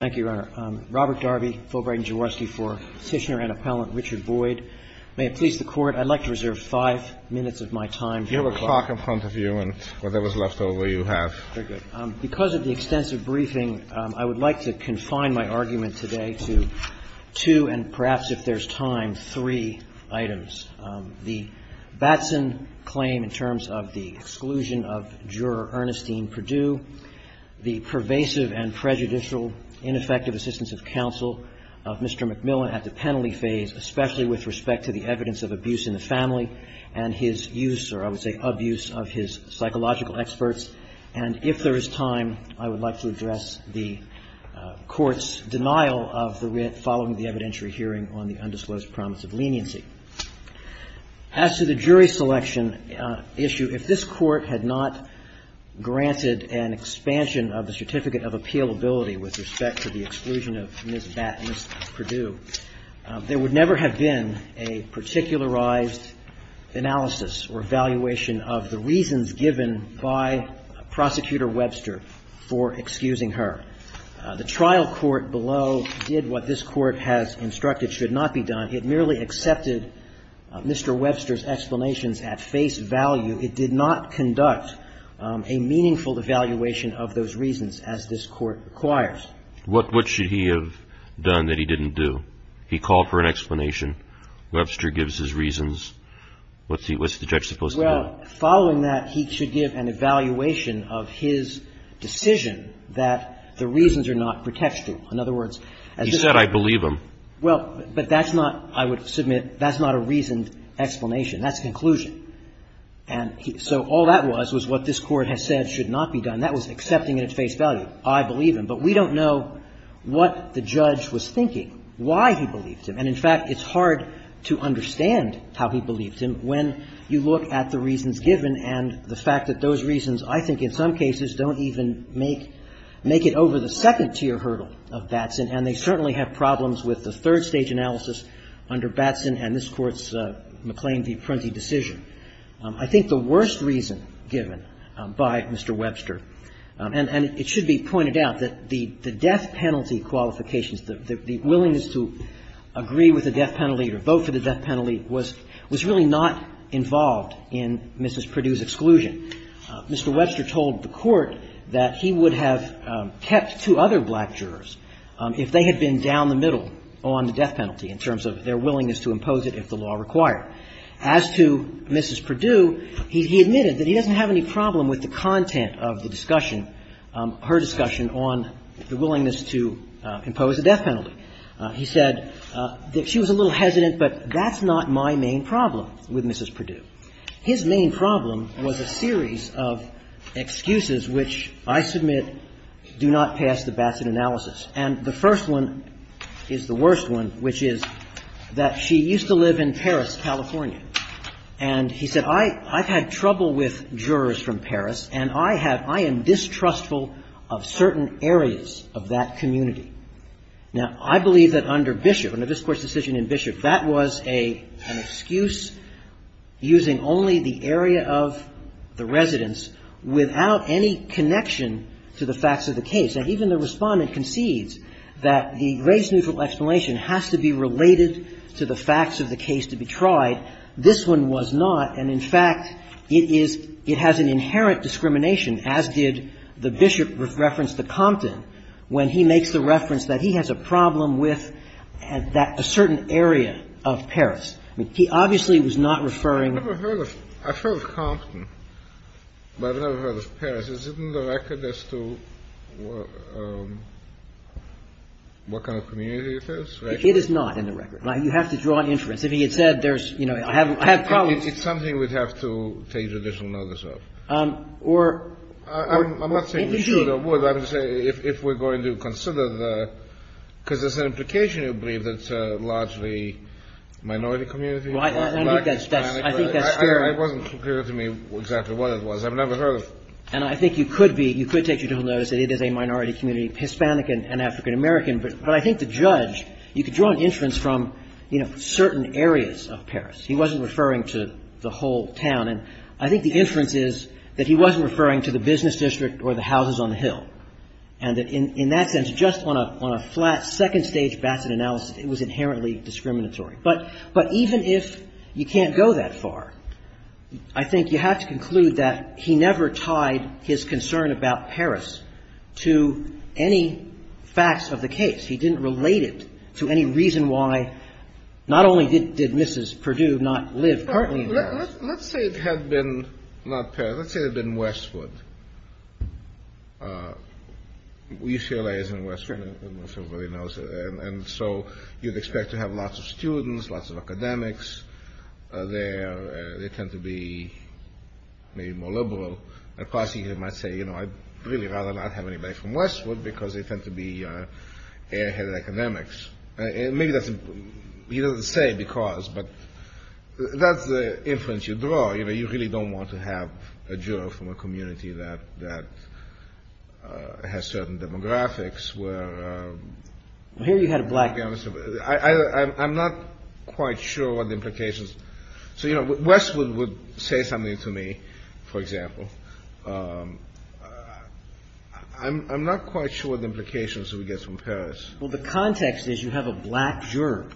Thank you, Your Honor. Robert Darby, Fulbright & Jaworski for Kishner and Appellant Richard Boyd. May it please the Court, I'd like to reserve five minutes of my time. Your clock in front of you and whatever's left over you have. Very good. Because of the extensive briefing, I would like to confine my argument today to two and perhaps, if there's time, three items. The Batson claim in terms of the exclusion of Juror Ernestine Perdue. The pervasive and prejudicial, ineffective assistance of counsel of Mr. McMillan at the penalty phase, especially with respect to the evidence of abuse in the family and his use, or I would say abuse, of his psychological experts. And if there is time, I would like to address the Court's denial of the following the evidentiary hearing on the undisclosed promise of leniency. As to the jury selection issue, if this Court had not granted an expansion of the Certificate of Appealability with respect to the exclusion of Ms. Batson, Ms. Perdue, there would never have been a particularized analysis or evaluation of the reasons given by Prosecutor Webster for excusing her. The trial court below did what this Court has instructed should not be done. It merely accepted Mr. Webster's explanations at face value. It did not conduct a meaningful evaluation of those reasons, as this Court requires. What should he have done that he didn't do? He called for an explanation. Webster gives his reasons. What's the judge supposed to do? Well, following that, he should give an evaluation of his decision that the reasons are not protection. In other words, as this Court has said, I believe him. Well, but that's not, I would submit, that's not a reasoned explanation. That's a conclusion. And so all that was, was what this Court has said should not be done. That was accepting at face value. I believe him. But we don't know what the judge was thinking, why he believed him. And, in fact, it's hard to understand how he believed him when you look at the reasons given and the fact that those reasons, I think, in some cases don't even make it over the second-tier hurdle of Batson. And they certainly have problems with the third-stage analysis under Batson and this Court's McLean v. Prunty decision. I think the worst reason given by Mr. Webster and it should be pointed out that the death penalty qualifications, the willingness to agree with the death penalty or vote for the death penalty was really not involved in Mrs. Perdue's exclusion. Mr. Webster told the Court that he would have kept two other black jurors if they had been down the middle on the death penalty in terms of their willingness to impose it if the law required. As to Mrs. Perdue, he admitted that he doesn't have any problem with the content of the discussion, her discussion, on the willingness to impose a death penalty. He said that she was a little hesitant, but that's not my main problem with Mrs. Perdue. His main problem was a series of excuses which I submit do not pass the Batson analysis. And the first one is the worst one, which is that she used to live in Paris, California. And he said, I've had trouble with jurors from Paris, and I have – I am distrustful of certain areas of that community. Now, I believe that under Bishop, under this Court's decision in Bishop, that was an excuse using only the area of the residence without any connection to the facts of the case. Now, even the Respondent concedes that the race-neutral explanation has to be related to the facts of the case to be tried. This one was not. And, in fact, it is – it has an inherent discrimination, as did the Bishop reference the Compton, when he makes the reference that he has a problem with that – a certain area of Paris. I mean, But I've never heard of Paris. Is it in the record as to what kind of community it is? It is not in the record. You have to draw an inference. If he had said there's – you know, I have problems. It's something we'd have to take additional notice of. Or – I'm not saying we should or would, but I would say if we're going to consider the – because there's an implication, I believe, that it's a largely minority community. Well, I think that's – I think that's fair. It wasn't clear to me exactly what it was. I've never heard of it. And I think you could be – you could take additional notice that it is a minority community, Hispanic and African-American. But I think the judge – you could draw an inference from, you know, certain areas of Paris. He wasn't referring to the whole town. And I think the inference is that he wasn't referring to the business district or the houses on the hill, and that in that sense, just on a flat, second-stage Bassett analysis, it was inherently discriminatory. But even if you can't go that far, I think you have to conclude that he never tied his concern about Paris to any facts of the case. He didn't relate it to any reason why – not only did Mrs. Perdue not live partly in Paris – Let's say it had been – not Paris. Let's say it had been Westwood. UCLA is in Westwood, and so everybody knows it, and so you'd expect to have lots of students, lots of academics there. They tend to be maybe more liberal. At Parsi, he might say, you know, I'd really rather not have anybody from Westwood because they tend to be air-headed academics. And maybe that's – he doesn't say because, but that's the inference you draw. You know, you really don't want to have a juror from a community that has certain demographics where – Well, here you had a black – I'm not quite sure what the implications – so, you know, Westwood would say something to me, for example. I'm not quite sure what the implications would get from Paris. Well, the context is you have a black juror.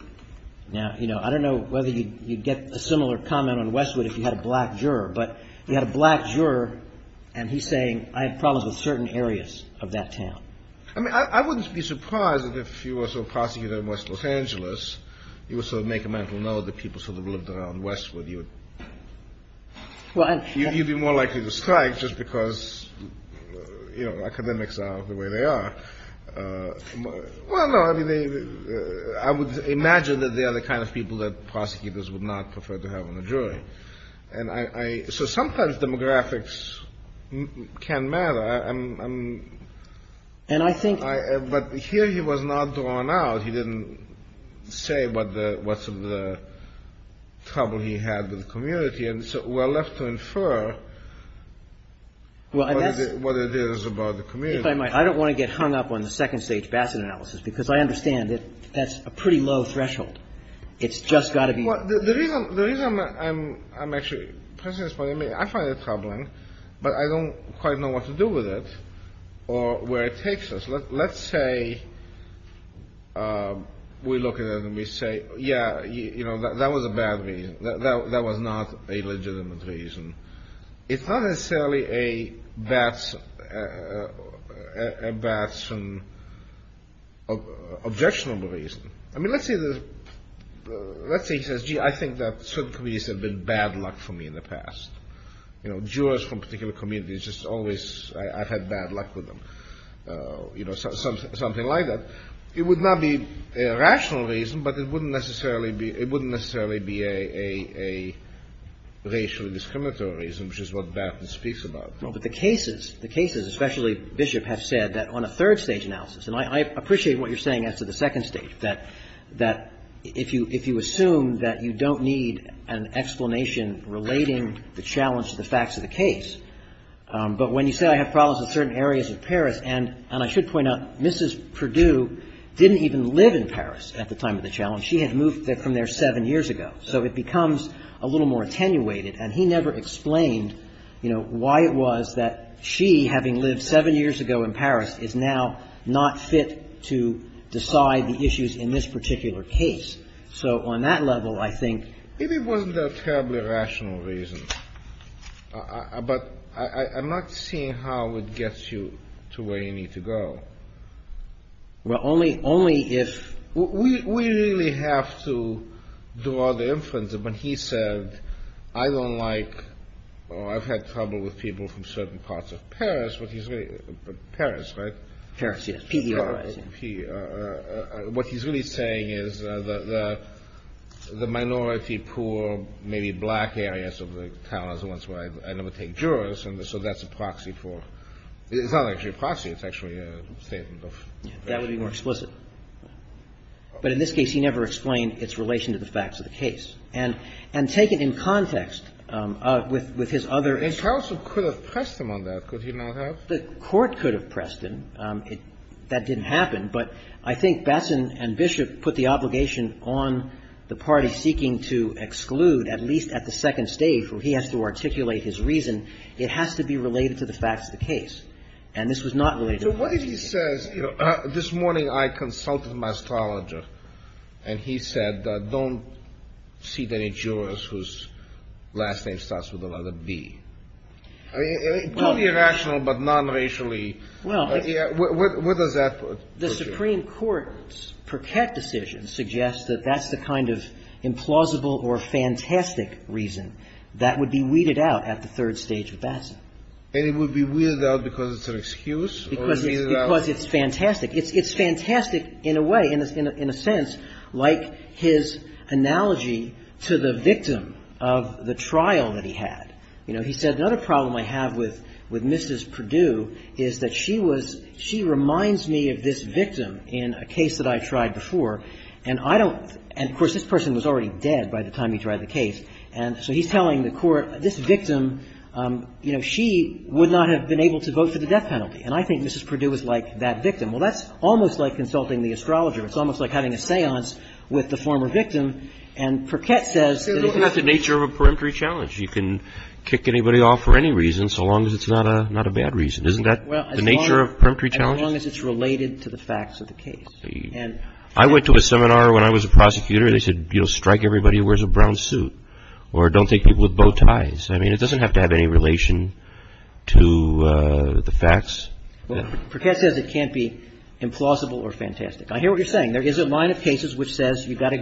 Now, you know, I don't know whether you'd get a similar comment on Westwood if you had a black juror, but you had a black juror, and he's saying, I have problems with certain areas of that town. I mean, I wouldn't be surprised if you were a prosecutor in West Los Angeles. You would sort of make a mental note that people sort of lived around Westwood. You would – you'd be more likely to strike just because, you know, academics are the way they are. Well, no, I mean, I would imagine that they are the kind of people that prosecutors would not prefer to have on the jury. And I – so sometimes demographics can matter. I'm – but here he was not drawn out. He didn't say what's the trouble he had with the community. And so we're left to infer what it is about the community. If I might, I don't want to get hung up on the second-stage Bassett analysis, because I understand that that's a pretty low threshold. It's just got to be – Well, the reason I'm actually – I find it troubling, but I don't quite know what to do with it or where it takes us. Let's say we look at it and we say, yeah, you know, that was a bad reason. That was not a legitimate reason. It's not necessarily a bad – an objectionable reason. I mean, let's say the – let's say he says, gee, I think that certain communities have been bad luck for me in the past. You know, jurors from particular communities just always – I've had bad luck with them, you know, something like that. It would not be a rational reason, but it wouldn't necessarily be – it wouldn't necessarily be a racially discriminatory reason, which is what Bassett speaks about. Well, but the cases – the cases, especially Bishop, have said that on a third-stage analysis – and I appreciate what you're saying as to the second stage, that if you assume that you don't need an explanation relating the challenge to the facts of the case, but when you say I have problems in certain areas of Paris – and I should point out Mrs. Perdue didn't even live in Paris at the time of the challenge. She had moved from there seven years ago. So it becomes a little more attenuated, and he never explained, you know, why it was that she, having lived seven years ago in Paris, is now not fit to decide the issues in this particular case. So on that level, I think – Maybe it wasn't a terribly rational reason, but I'm not seeing how it gets you to where you need to go. Well, only if – We really have to draw the inference of when he said, I don't like – I've had trouble with people from certain parts of Paris, but he's really – Paris, right? Paris, yes. P-E-R-I-S. P-E-R-I-S. What he's really saying is that the minority poor, maybe black areas of the town are the ones where I never take jurors, and so that's a proxy for – it's not actually a proxy. It's actually a statement of – That would be more explicit. But in this case, he never explained its relation to the facts of the case. And take it in context with his other – And counsel could have pressed him on that, could he not have? The court could have pressed him. That didn't happen, but I think Batson and Bishop put the obligation on the party seeking to exclude, at least at the second stage, where he has to articulate his reason. It has to be related to the facts of the case. And this was not related to the facts of the case. So what if he says, you know, this morning I consulted my astrologer, and he said, don't seat any jurors whose last name starts with another B. I mean, totally irrational, but nonracially. Well, it's – What does that put – The Supreme Court's Perquet decision suggests that that's the kind of implausible or fantastic reason that would be weeded out at the third stage with Batson. And it would be weeded out because it's an excuse, or it's weeded out – Because it's fantastic. It's fantastic in a way, in a sense, like his analogy to the victim of the trial that he had. You know, he said, another problem I have with Mrs. Perdue is that she was – she reminds me of this victim in a case that I tried before, and I don't – and, of course, this person was already dead by the time he tried the case. And so he's telling the court, this victim, you know, she would not have been able to vote for the death penalty. And I think Mrs. Perdue is like that victim. Well, that's almost like consulting the astrologer. It's almost like having a seance with the former victim. And Perquet says – It's the nature of a peremptory challenge. You can kick anybody off for any reason so long as it's not a bad reason. Isn't that the nature of peremptory challenges? Well, as long as it's related to the facts of the case. I went to a seminar when I was a prosecutor. They said, you know, strike everybody who wears a brown suit or don't take people with bow ties. I mean, it doesn't have to have any relation to the facts. Perquet says it can't be implausible or fantastic. I hear what you're saying. There is a line of cases which says you've got to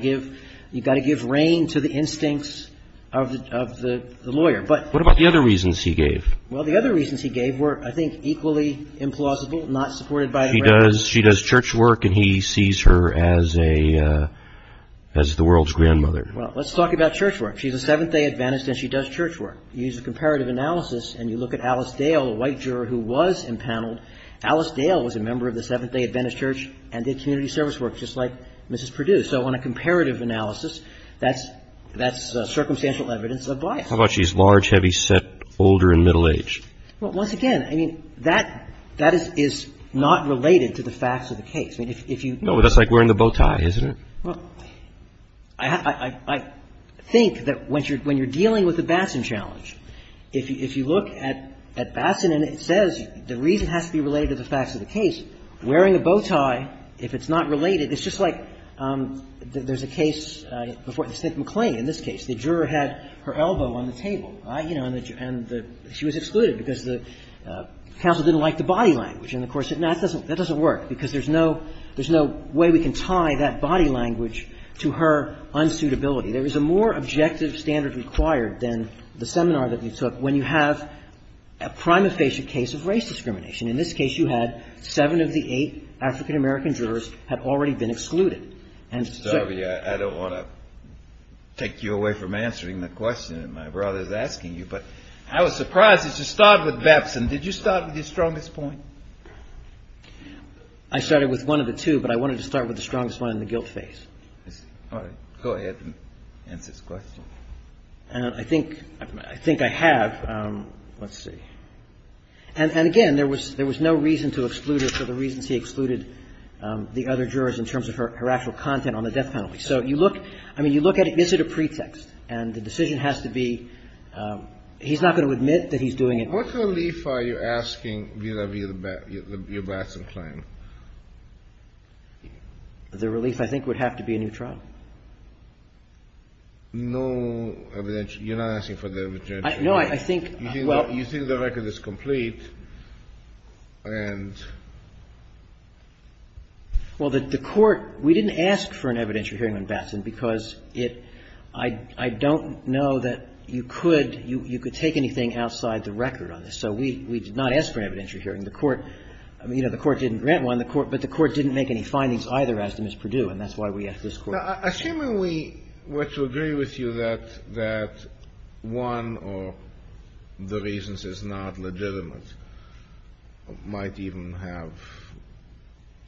give reign to the instincts of the lawyer. What about the other reasons he gave? Well, the other reasons he gave were, I think, equally implausible, not supported by the records. She does church work and he sees her as the world's grandmother. Well, let's talk about church work. She's a Seventh-day Adventist and she does church work. You use a comparative analysis and you look at Alice Dale, a white juror who was impaneled. Alice Dale was a member of the Seventh-day Adventist Church and did community service work. Just like Mrs. Perdue. So on a comparative analysis, that's circumstantial evidence of bias. How about she's large, heavy, set, older, and middle-aged? Well, once again, I mean, that is not related to the facts of the case. No, but that's like wearing the bow tie, isn't it? Well, I think that when you're dealing with the Bassan challenge, if you look at Bassan and it says the reason has to be related to the facts of the case, wearing a bow tie, if it's not related, it's just like there's a case before St. McLean, in this case. The juror had her elbow on the table. And she was excluded because the counsel didn't like the body language. And of course, that doesn't work because there's no way we can tie that body language to her unsuitability. There is a more objective standard required than the seminar that we took when you have a prima facie case of race discrimination. In this case, you had seven of the eight African-American jurors had already been excluded. Mr. Darby, I don't want to take you away from answering the question that my brother is asking you, but I was surprised that you started with Bassan. Did you start with your strongest point? I started with one of the two, but I wanted to start with the strongest one in the guilt phase. Go ahead and answer this question. I think I have. Let's see. And again, there was no reason to exclude her for the reasons he excluded the other jurors in terms of her actual content on the death penalty. So you look at it as a pretext. And the decision has to be he's not going to admit that he's doing it. What relief are you asking vis-à-vis your Bassan claim? The relief, I think, would have to be a new trial. No evidence. You're not asking for the evidence. You think the record is complete. Well, the Court, we didn't ask for an evidentiary hearing on Bassan because I don't know that you could take anything outside the record on this. So we did not ask for an evidentiary hearing. The Court didn't grant one, but the Court didn't make any findings either as to Ms. Perdue, and that's why we asked this Court. Assuming we were to agree with you that one of the reasons is not legitimate, might even have,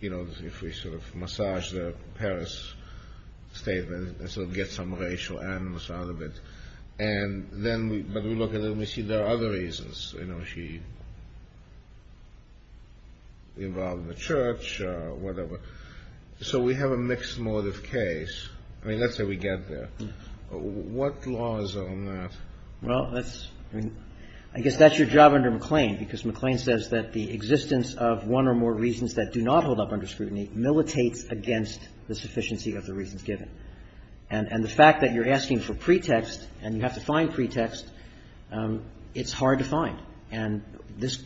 you know, if we sort of massage the Paris statement and sort of get some racial animus out of it, and then we look at it and we see there are other reasons, you know, she involved in the church or whatever. So we have a mixed motive case. I mean, let's say we get there. What laws are on that? Well, that's, I mean, I guess that's your job under McLean because McLean says that the existence of one or more reasons that do not hold up under scrutiny militates against the sufficiency of the reasons given. And the fact that you're asking for pretext and you have to find pretext, it's hard to find. And this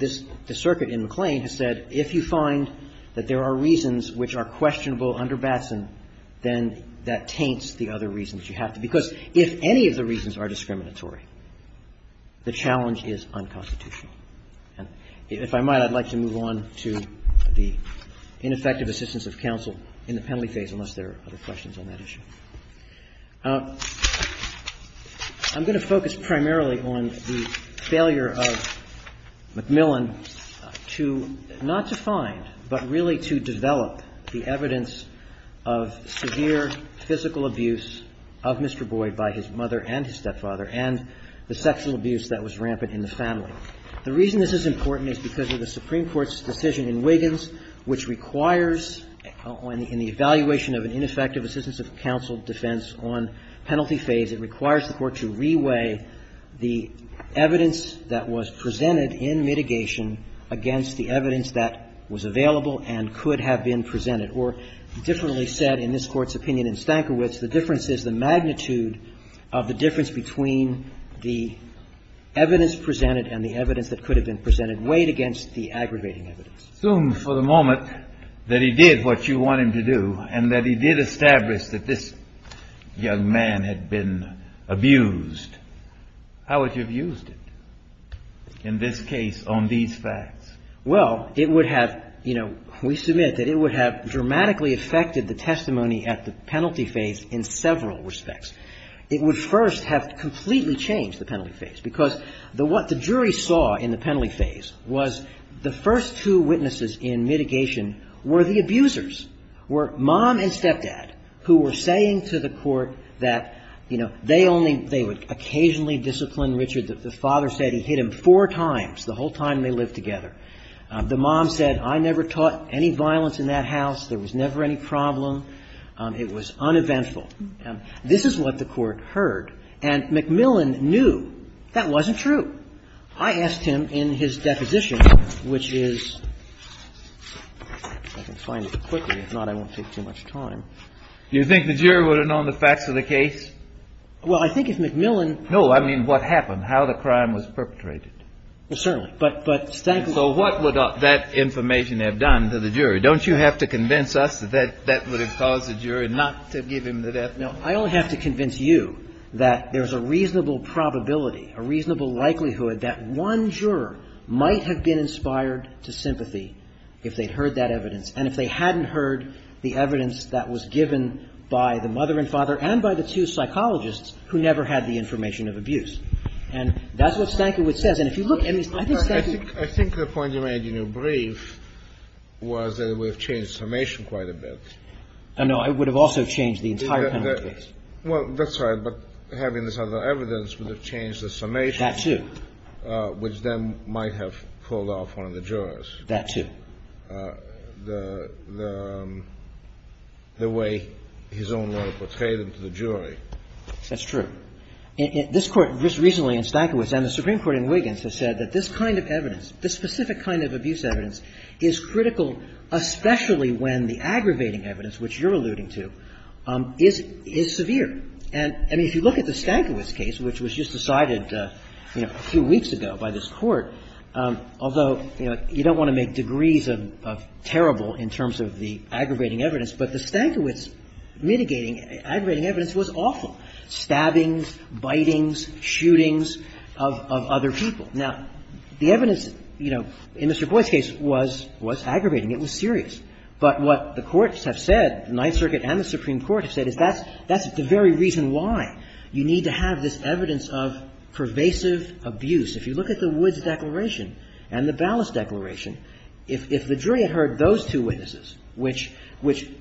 circuit in McLean has said if you find that there are reasons which are questionable under Batson, then that taints the other reasons you have to, because if any of the reasons are discriminatory, the challenge is unconstitutional. And if I might, I'd like to move on to the ineffective assistance of counsel in the penalty phase, unless there are other questions on that issue. I'm going to focus primarily on the failure of McMillan to, not to find, but really to develop the evidence of severe physical abuse of Mr. Boyd by his mother and his stepfather and the sexual abuse that was rampant in the family. The reason this is important is because of the Supreme Court's decision in Wiggins which requires in the evaluation of an ineffective assistance of counsel defense on penalty phase, it requires the Court to reweigh the evidence that was presented in mitigation against the evidence that was available and could have been presented. Or differently said, in this Court's opinion in Stankiewicz, the difference is the magnitude of the difference between the evidence presented and the evidence that could have been presented weighed against the aggravating evidence. Assume for the moment that he did what you want him to do and that he did establish that this young man had been abused. How would you have used it in this case on these facts? Well, it would have, you know, we submit that it would have dramatically affected the testimony at the penalty phase in several respects. It would first have completely changed the penalty phase because what the jury saw in the penalty phase was the first two witnesses in mitigation were the abusers, were mom and stepdad who were saying to the Court that, you know, they only, they would occasionally discipline Richard. The father said he hit him four times the whole time they lived together. The mom said, I never taught any violence in that house. There was never any problem. It was uneventful. This is what the Court heard. And McMillan knew that wasn't true. I asked him in his deposition, which is, I can find it quickly. If not, I won't take too much time. Do you think the jury would have known the facts of the case? Well, I think if McMillan. No, I mean what happened, how the crime was perpetrated. Well, certainly. But, but. So what would that information have done to the jury? Don't you have to convince us that that would have caused the jury not to give him the death penalty? No, I only have to convince you that there's a reasonable probability, a reasonable likelihood that one juror might have been inspired to sympathy if they'd heard that evidence. And if they hadn't heard the evidence that was given by the mother and father and by the two psychologists who never had the information of abuse. And that's what Stankiewicz says. And if you look. I think Stankiewicz. I think the point you made in your brief was that it would have changed summation quite a bit. No, it would have also changed the entire penalty case. Well, that's right. But having this other evidence would have changed the summation. That too. Which then might have pulled off one of the jurors. That too. The way his own mother portrayed him to the jury. That's true. This Court recently in Stankiewicz and the Supreme Court in Wiggins has said that this kind of evidence, this specific kind of abuse evidence is critical, especially when the aggravating evidence, which you're alluding to, is severe. And, I mean, if you look at the Stankiewicz case, which was just decided, you know, a few weeks ago by this Court, although, you know, you don't want to make degrees of terrible in terms of the aggravating evidence, but the Stankiewicz mitigating aggravating evidence was awful. Stabbings, bitings, shootings of other people. Now, the evidence, you know, in Mr. Boyd's case was aggravating. It was serious. But what the courts have said, the Ninth Circuit and the Supreme Court have said, is that's the very reason why you need to have this evidence of pervasive abuse. If you look at the Woods Declaration and the Ballas Declaration, if the jury had heard those two witnesses, which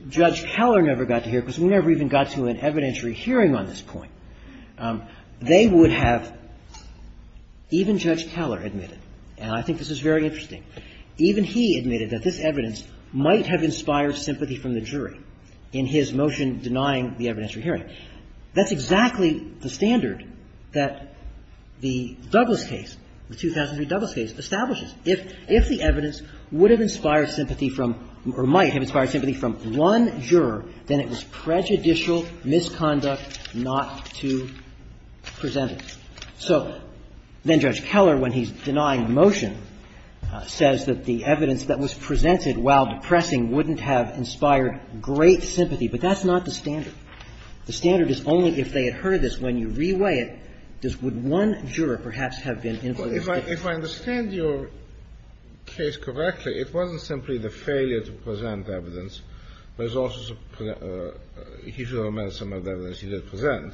Judge Keller never got to hear because we never even got to an evidentiary hearing on this point, they would have, even Judge Keller admitted, and I think this is very interesting, even he admitted that this evidence might have been denying the evidentiary hearing. That's exactly the standard that the Douglas case, the 2003 Douglas case, establishes. If the evidence would have inspired sympathy from, or might have inspired sympathy from one juror, then it was prejudicial misconduct not to present it. So then Judge Keller, when he's denying the motion, says that the evidence that was presented while depressing wouldn't have inspired great sympathy. But that's not the standard. The standard is only if they had heard this. When you reweigh it, would one juror perhaps have been influenced? If I understand your case correctly, it wasn't simply the failure to present the evidence. There's also the, he should have omitted some of the evidence he didn't present.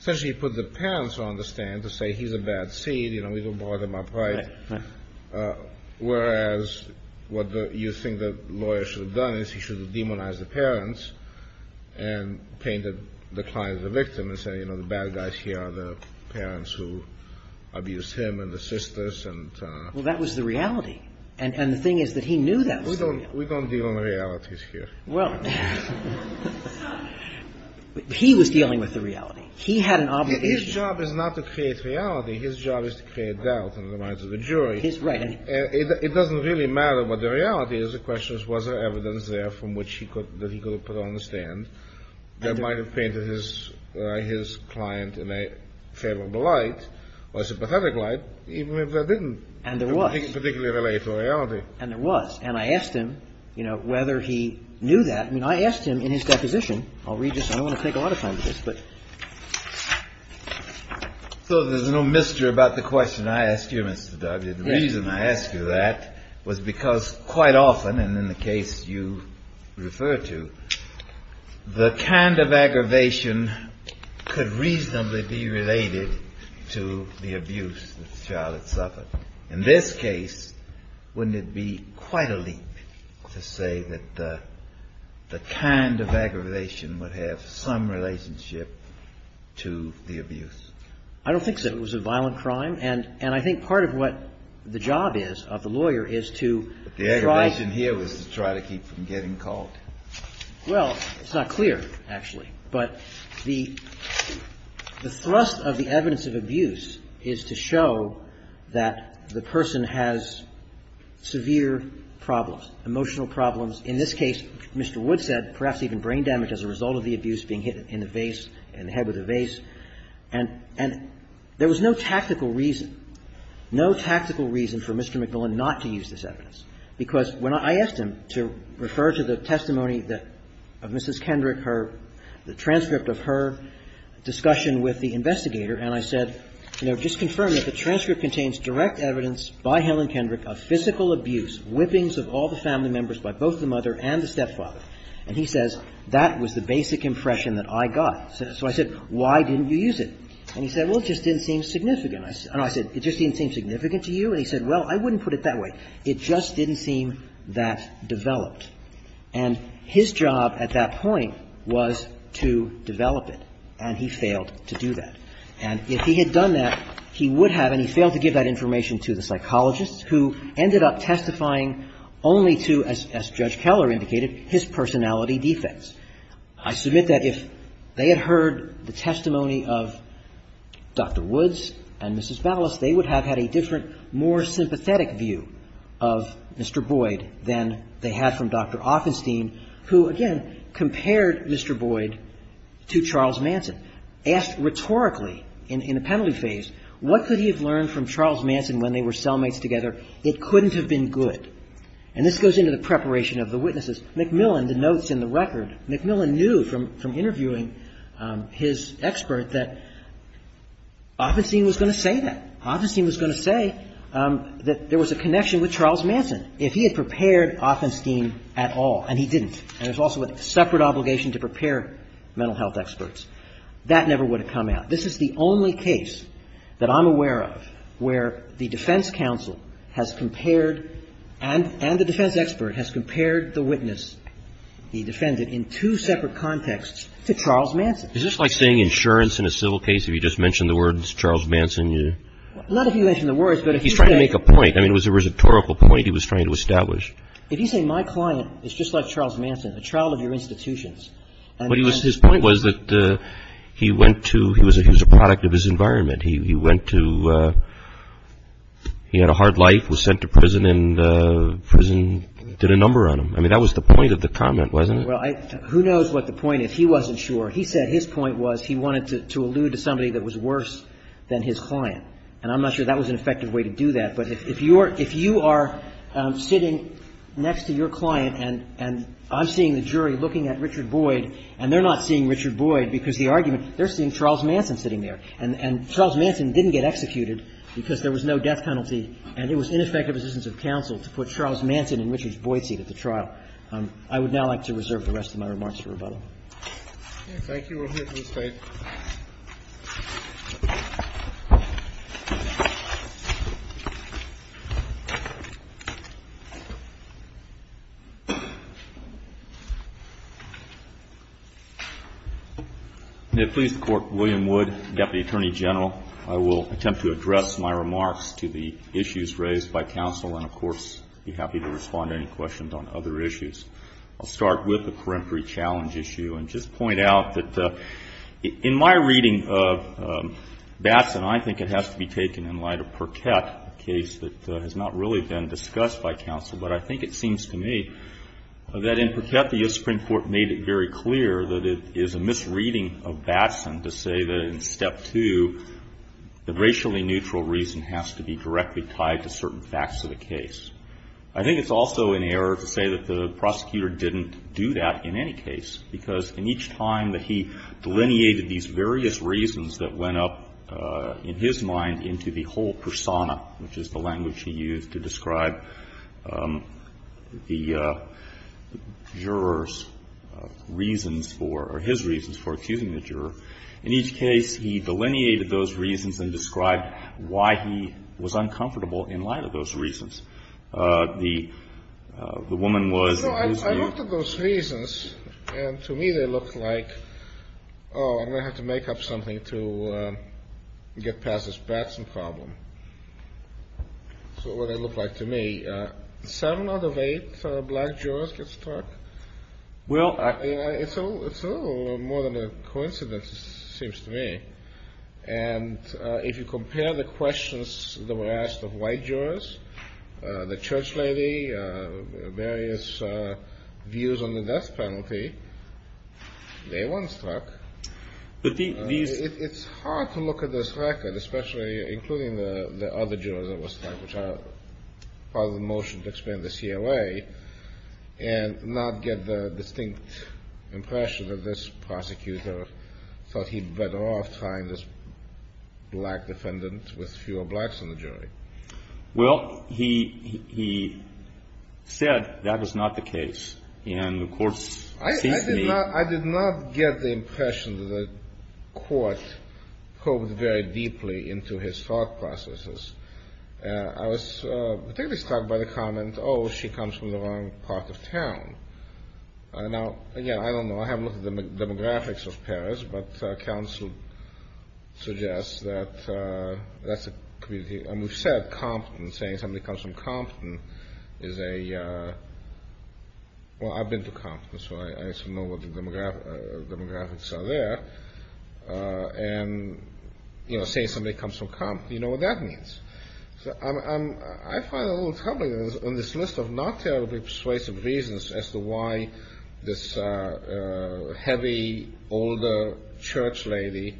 Essentially, he put the parents on the stand to say he's a bad seed, you know, we don't think that lawyers should have done it. He should have demonized the parents and painted the client as a victim and said, you know, the bad guys here are the parents who abused him and the sisters. Well, that was the reality. And the thing is that he knew that was the reality. We don't deal in realities here. Well, he was dealing with the reality. He had an obligation. His job is not to create reality. His job is to create doubt in the minds of the jury. Right. It doesn't really matter what the reality is. The question is, was there evidence there from which he could, that he could have put on the stand that might have painted his client in a favorable light or a sympathetic light, even if that didn't particularly relate to reality. And there was. And I asked him, you know, whether he knew that. I mean, I asked him in his deposition. I'll read this. I don't want to take a lot of time with this. So there's no mystery about the question I asked you, Mr. Dudley. The reason I asked you that was because quite often, and in the case you refer to, the kind of aggravation could reasonably be related to the abuse that the child had suffered. In this case, wouldn't it be quite a leap to say that the kind of aggravation would have some relationship to the abuse? I don't think so. It was a violent crime. And I think part of what the job is, of the lawyer, is to try. But the aggravation here was to try to keep from getting caught. Well, it's not clear, actually. But the thrust of the evidence of abuse is to show that the person has severe problems, emotional problems. In this case, Mr. Wood said, perhaps even brain damage as a result of the abuse, being hit in the face, in the head with a vase. And there was no tactical reason, no tactical reason for Mr. MacMillan not to use this evidence. Because when I asked him to refer to the testimony of Mrs. Kendrick, the transcript of her discussion with the investigator, and I said, you know, just confirm that the transcript contains direct evidence by Helen Kendrick of physical abuse, whippings of all the family members by both the mother and the stepfather. And he says, that was the basic impression that I got. So I said, why didn't you use it? And he said, well, it just didn't seem significant. And I said, it just didn't seem significant to you? And he said, well, I wouldn't put it that way. It just didn't seem that developed. And his job at that point was to develop it. And he failed to do that. And if he had done that, he would have, and he failed to give that information to the psychologist, who ended up testifying only to, as Judge Keller indicated, his personality defects. I submit that if they had heard the testimony of Dr. Woods and Mrs. Ballas, they would have had a different, more sympathetic view of Mr. Boyd than they had from Dr. Offenstein, who, again, compared Mr. Boyd to Charles Manson. Asked rhetorically in the penalty phase, what could he have learned from Charles Manson when they were cellmates together? It couldn't have been good. And this goes into the preparation of the witnesses. McMillan, the notes in the record, McMillan knew from interviewing his expert that Offenstein was going to say that. Offenstein was going to say that there was a connection with Charles Manson. If he had prepared Offenstein at all, and he didn't, and there's also a separate obligation to prepare mental health experts, that never would have come out. This is the only case that I'm aware of where the defense counsel has compared and the defense expert has compared the witness he defended in two separate contexts to Charles Manson. Is this like saying insurance in a civil case, if you just mention the words Charles Manson? Not if you mention the words, but if you say... He's trying to make a point. I mean, it was a rhetorical point he was trying to establish. If you say my client is just like Charles Manson, a child of your institutions... But his point was that he went to, he was a product of his environment. He went to, he had a hard life, was sent to prison, and prison did a number on him. I mean, that was the point of the comment, wasn't it? Well, who knows what the point is. He wasn't sure. He said his point was he wanted to allude to somebody that was worse than his client. And I'm not sure that was an effective way to do that. But if you are sitting next to your client, and I'm seeing the jury looking at Richard Boyd, and they're not seeing Richard Boyd because the argument, they're seeing Charles Manson sitting there. And Charles Manson didn't get executed because there was no death penalty, and it was ineffective decisions of counsel to put Charles Manson and Richard Boyd seated at the trial. I would now like to reserve the rest of my remarks for rebuttal. Thank you. We'll hear from the State. May it please the Court. William Wood, Deputy Attorney General. I will attempt to address my remarks to the issues raised by counsel, and, of course, I'd be happy to respond to any questions on other issues. I'll start with the peremptory challenge issue It's an issue that we have to address. In my reading of Batson, I think it has to be taken in light of Perkett, a case that has not really been discussed by counsel. But I think it seems to me that in Perkett, the U.S. Supreme Court made it very clear that it is a misreading of Batson to say that in Step 2, the racially neutral reason has to be directly tied to certain facts of the case. I think it's also an error to say that the prosecutor didn't do that in any case because in each time that he delineated these various reasons that went up in his mind into the whole persona, which is the language he used to describe the juror's reasons for, or his reasons for accusing the juror, in each case he delineated those reasons and described why he was uncomfortable in light of those reasons. The woman was his view. To me, they looked like, oh, I'm going to have to make up something to get past this Batson problem. That's what they looked like to me. Seven out of eight black jurors get stuck? It's a little more than a coincidence, it seems to me. And if you compare the questions that were asked of white jurors, the church lady, various views on the death penalty, they weren't struck. It's hard to look at this record, especially including the other jurors that were struck, which are part of the motion to expand the CLA, and not get the distinct impression that this prosecutor thought he'd better off trying this black defendant with fewer blacks in the jury. Well, he said that was not the case, and the court seems to me... I did not get the impression that the court probed very deeply into his thought processes. I was particularly struck by the comment, oh, she comes from the wrong part of town. Now, again, I don't know. I haven't looked at the demographics of Paris, but counsel suggests that that's a community. And we've said Compton, saying somebody comes from Compton is a... Well, I've been to Compton, so I know what the demographics are there. And, you know, saying somebody comes from Compton, you know what that means. I find it a little troubling, on this list of not terribly persuasive reasons as to why this heavy, older church lady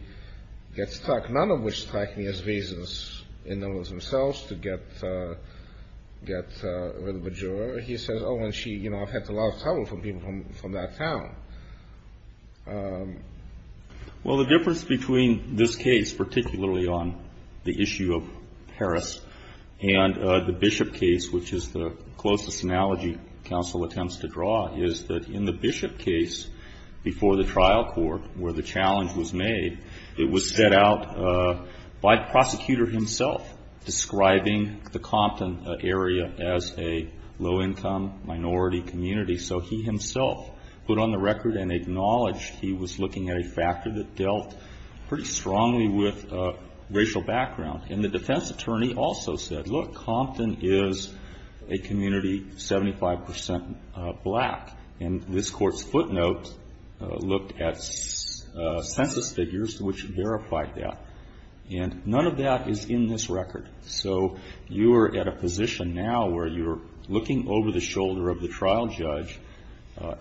gets struck, none of which strike me as reasons in and of themselves to get rid of a juror. He says, oh, and she, you know, I've had a lot of trouble from people from that town. Well, the difference between this case, particularly on the issue of Paris, and the Bishop case, which is the closest analogy counsel attempts to draw, is that in the Bishop case, before the trial court, where the challenge was made, it was set out by the prosecutor himself describing the Compton area as a low-income minority community. So he himself put on the record and acknowledged he was looking at a factor that dealt pretty strongly with racial background. And the defense attorney also said, look, Compton is a community 75 percent black. And this Court's footnote looked at census figures, which verified that. And none of that is in this record. So you are at a position now where you're looking over the shoulder of the trial judge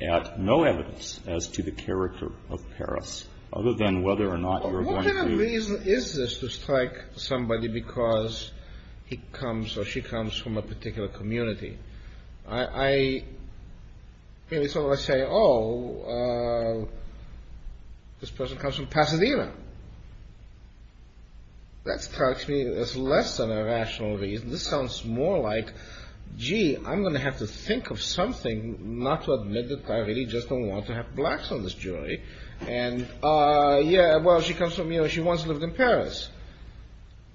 at no evidence as to the character of Paris, other than whether or not you're going to... What kind of reason is this to strike somebody because he comes or she comes from a particular community? I really sort of say, oh, this person comes from Pasadena. That strikes me as less than a rational reason. This sounds more like, gee, I'm going to have to think of something not to admit that I really just don't want to have blacks on this jury. And yeah, well, she comes from... She once lived in Paris.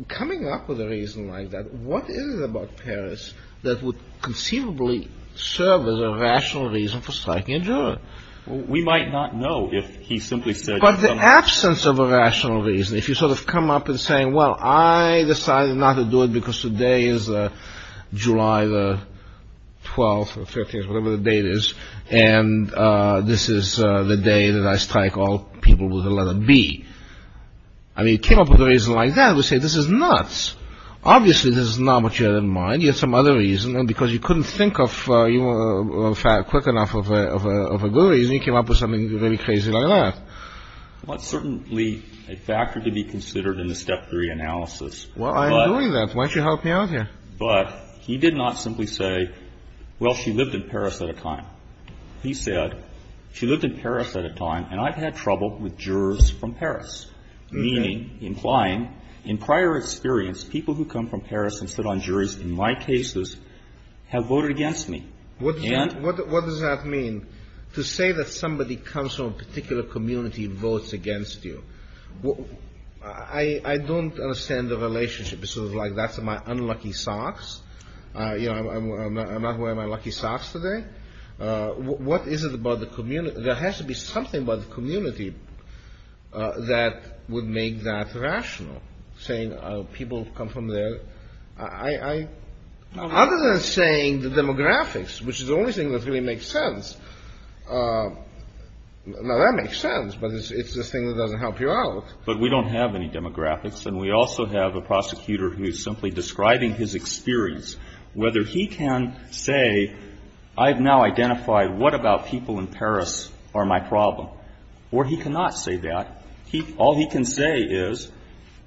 Coming up with a reason like that, what is it about Paris that would conceivably serve as a rational reason for striking a juror? We might not know if he simply said... But the absence of a rational reason, if you sort of come up and say, well, I decided not to do it because today is July the 12th or 15th, whatever the date is, and this is the day that I strike all people with the letter B. I mean, it came up with a reason like that. We say this is nuts. Obviously, this is not what you had in mind. You had some other reason, and because you couldn't think of a quick enough of a good reason, you came up with something really crazy like that. Well, it's certainly a factor to be considered in the Step 3 analysis. Well, I agree with that. Why don't you help me out here? But he did not simply say, well, she lived in Paris at a time. He said, she lived in Paris at a time, and I've had trouble with jurors from Paris, meaning, implying, in prior experience, people who come from Paris and sit on juries in my cases have voted against me. What does that mean? To say that somebody comes from a particular community and votes against you, I don't understand the relationship. It's sort of like that's my unlucky socks. I'm not wearing my lucky socks today. What is it about the community? There has to be something about the community that would make that rational, saying people come from there. Other than saying the demographics, which is the only thing that really makes sense. Now, that makes sense, but it's the thing that doesn't help you out. But we don't have any demographics, and we also have a prosecutor who is simply describing his experience, whether he can say, I've now identified what about people in Paris are my problem, or he cannot say that. All he can say is,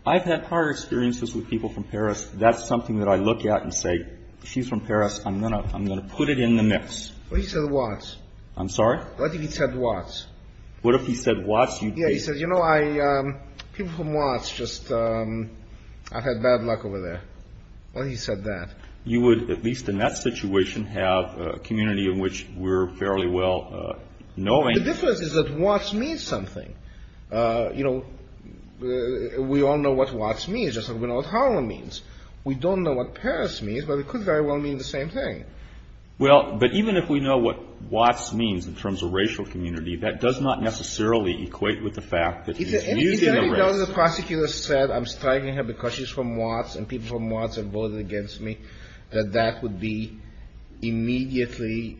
I've had hard experiences with people from Paris. That's something that I look at and say, she's from Paris. I'm going to put it in the mix. Well, he said Watts. I'm sorry? I think he said Watts. What if he said Watts? Yeah, he said, you know, people from Watts just, I've had bad luck over there. Well, he said that. You would, at least in that situation, have a community in which we're fairly well knowing. The difference is that Watts means something. You know, we all know what Watts means. We all know what Harlem means. We don't know what Paris means, but it could very well mean the same thing. Well, but even if we know what Watts means in terms of racial community, that does not necessarily equate with the fact that he's using a race. Is there any doubt the prosecutor said, I'm striking her because she's from Watts, and people from Watts have voted against me, that that would be immediately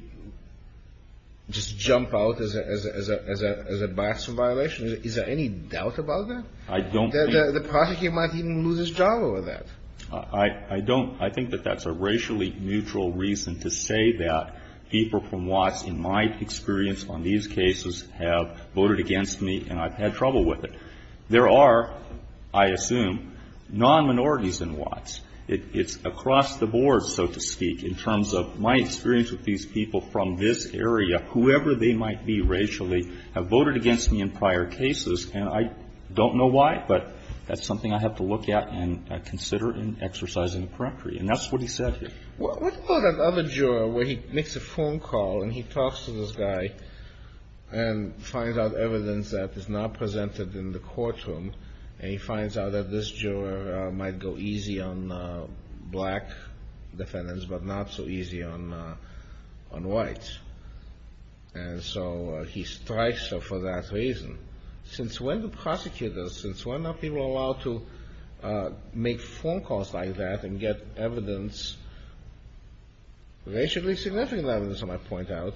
just jump out as a bias or violation? Is there any doubt about that? I don't think. The prosecutor might even lose his job over that. I don't. I think that that's a racially neutral reason to say that people from Watts, in my experience on these cases, have voted against me and I've had trouble with it. There are, I assume, non-minorities in Watts. It's across the board, so to speak, in terms of my experience with these people from this area, whoever they might be racially, have voted against me in prior cases, and I don't know why, but that's something I have to look at and consider in exercising the peremptory. And that's what he said here. What about that other juror where he makes a phone call and he talks to this guy and finds out evidence that is not presented in the courtroom, and he finds out that this juror might go easy on black defendants but not so easy on whites. And so he strikes her for that reason. Since when do prosecutors, since when are people allowed to make phone calls like that and get evidence, racially significant evidence, I might point out,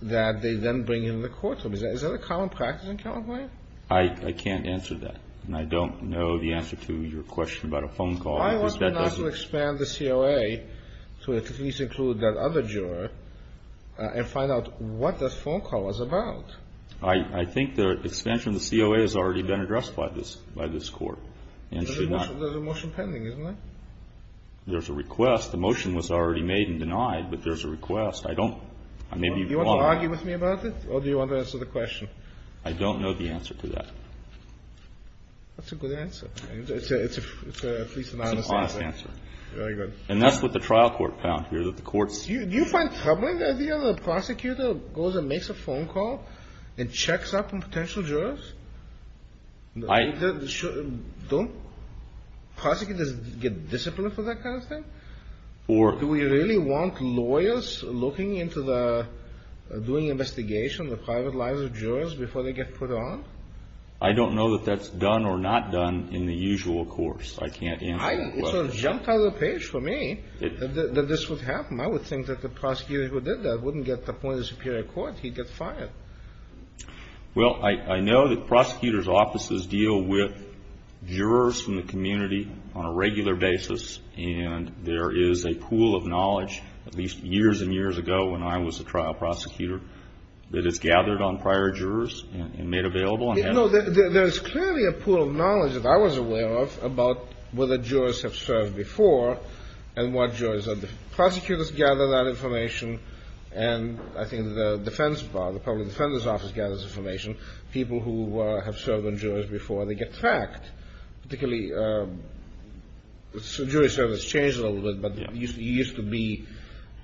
that they then bring into the courtroom? Is that a common practice in California? I can't answer that, and I don't know the answer to your question about a phone call. I want to expand the COA to at least include that other juror and find out what that phone call was about. I think the expansion of the COA has already been addressed by this court. There's a motion pending, isn't there? There's a request. The motion was already made and denied, but there's a request. Do you want to argue with me about it, or do you want to answer the question? I don't know the answer to that. That's a good answer. It's at least an honest answer. It's an honest answer. Very good. And that's what the trial court found here, that the courts Do you find troubling the idea that a prosecutor goes and makes a phone call and checks up on potential jurors? I Don't prosecutors get disciplined for that kind of thing? Or Do we really want lawyers looking into the, doing investigation of the private lives of jurors before they get put on? I don't know that that's done or not done in the usual course. I can't answer the question. It sort of jumped out of the page for me that this would happen. I would think that the prosecutor who did that wouldn't get appointed to the Superior Court. He'd get fired. Well, I know that prosecutors' offices deal with jurors from the community on a regular basis, and there is a pool of knowledge, at least years and years ago when I was a trial prosecutor, that is gathered on prior jurors and made available. No, there is clearly a pool of knowledge that I was aware of about whether jurors have served before and what jurors are. Prosecutors gather that information, and I think the defense bar, the public defender's office, gathers information. People who have served on jurors before, they get tracked, particularly the jury service changes a little bit, but you used to be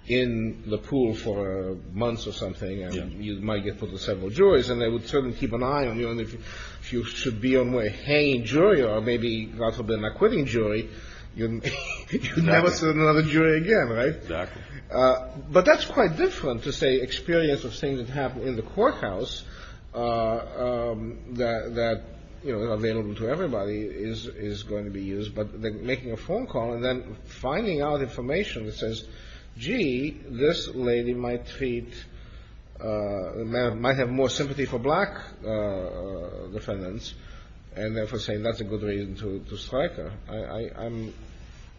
in the pool for months or something, and you might get put with several juries, and they would certainly keep an eye on you, and if you should be on a hanging jury or maybe possibly an acquitting jury, you'd never sit on another jury again, right? Exactly. But that's quite different to, say, experience of things that happen in the courthouse that are available to everybody is going to be used, but making a phone call and then finding out information that says, gee, this lady might have more sympathy for black defendants and therefore saying that's a good reason to strike her.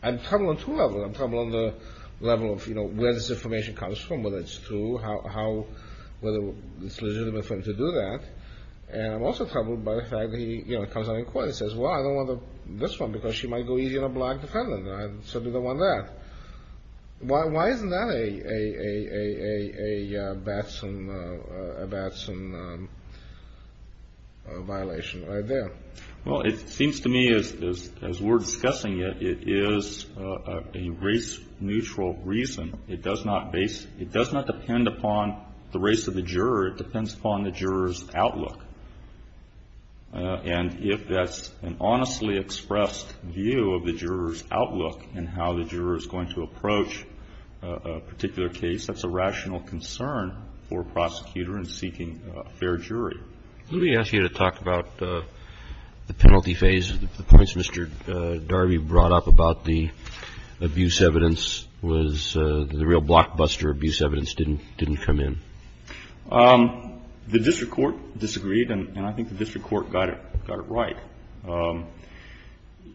I'm troubled on two levels. I'm troubled on the level of where this information comes from, whether it's true, whether it's legitimate for him to do that, and I'm also troubled by the fact that he comes out in court and says, well, I don't want this one because she might go easy on a black defendant, and I certainly don't want that. Why isn't that a Batson violation right there? Well, it seems to me as we're discussing it, it is a race-neutral reason. It does not depend upon the race of the juror. It depends upon the juror's outlook. And if that's an honestly expressed view of the juror's outlook and how the juror is going to approach a particular case, that's a rational concern for a prosecutor in seeking a fair jury. Let me ask you to talk about the penalty phase. The points Mr. Darby brought up about the abuse evidence was the real blockbuster abuse evidence didn't come in. The district court disagreed, and I think the district court got it right.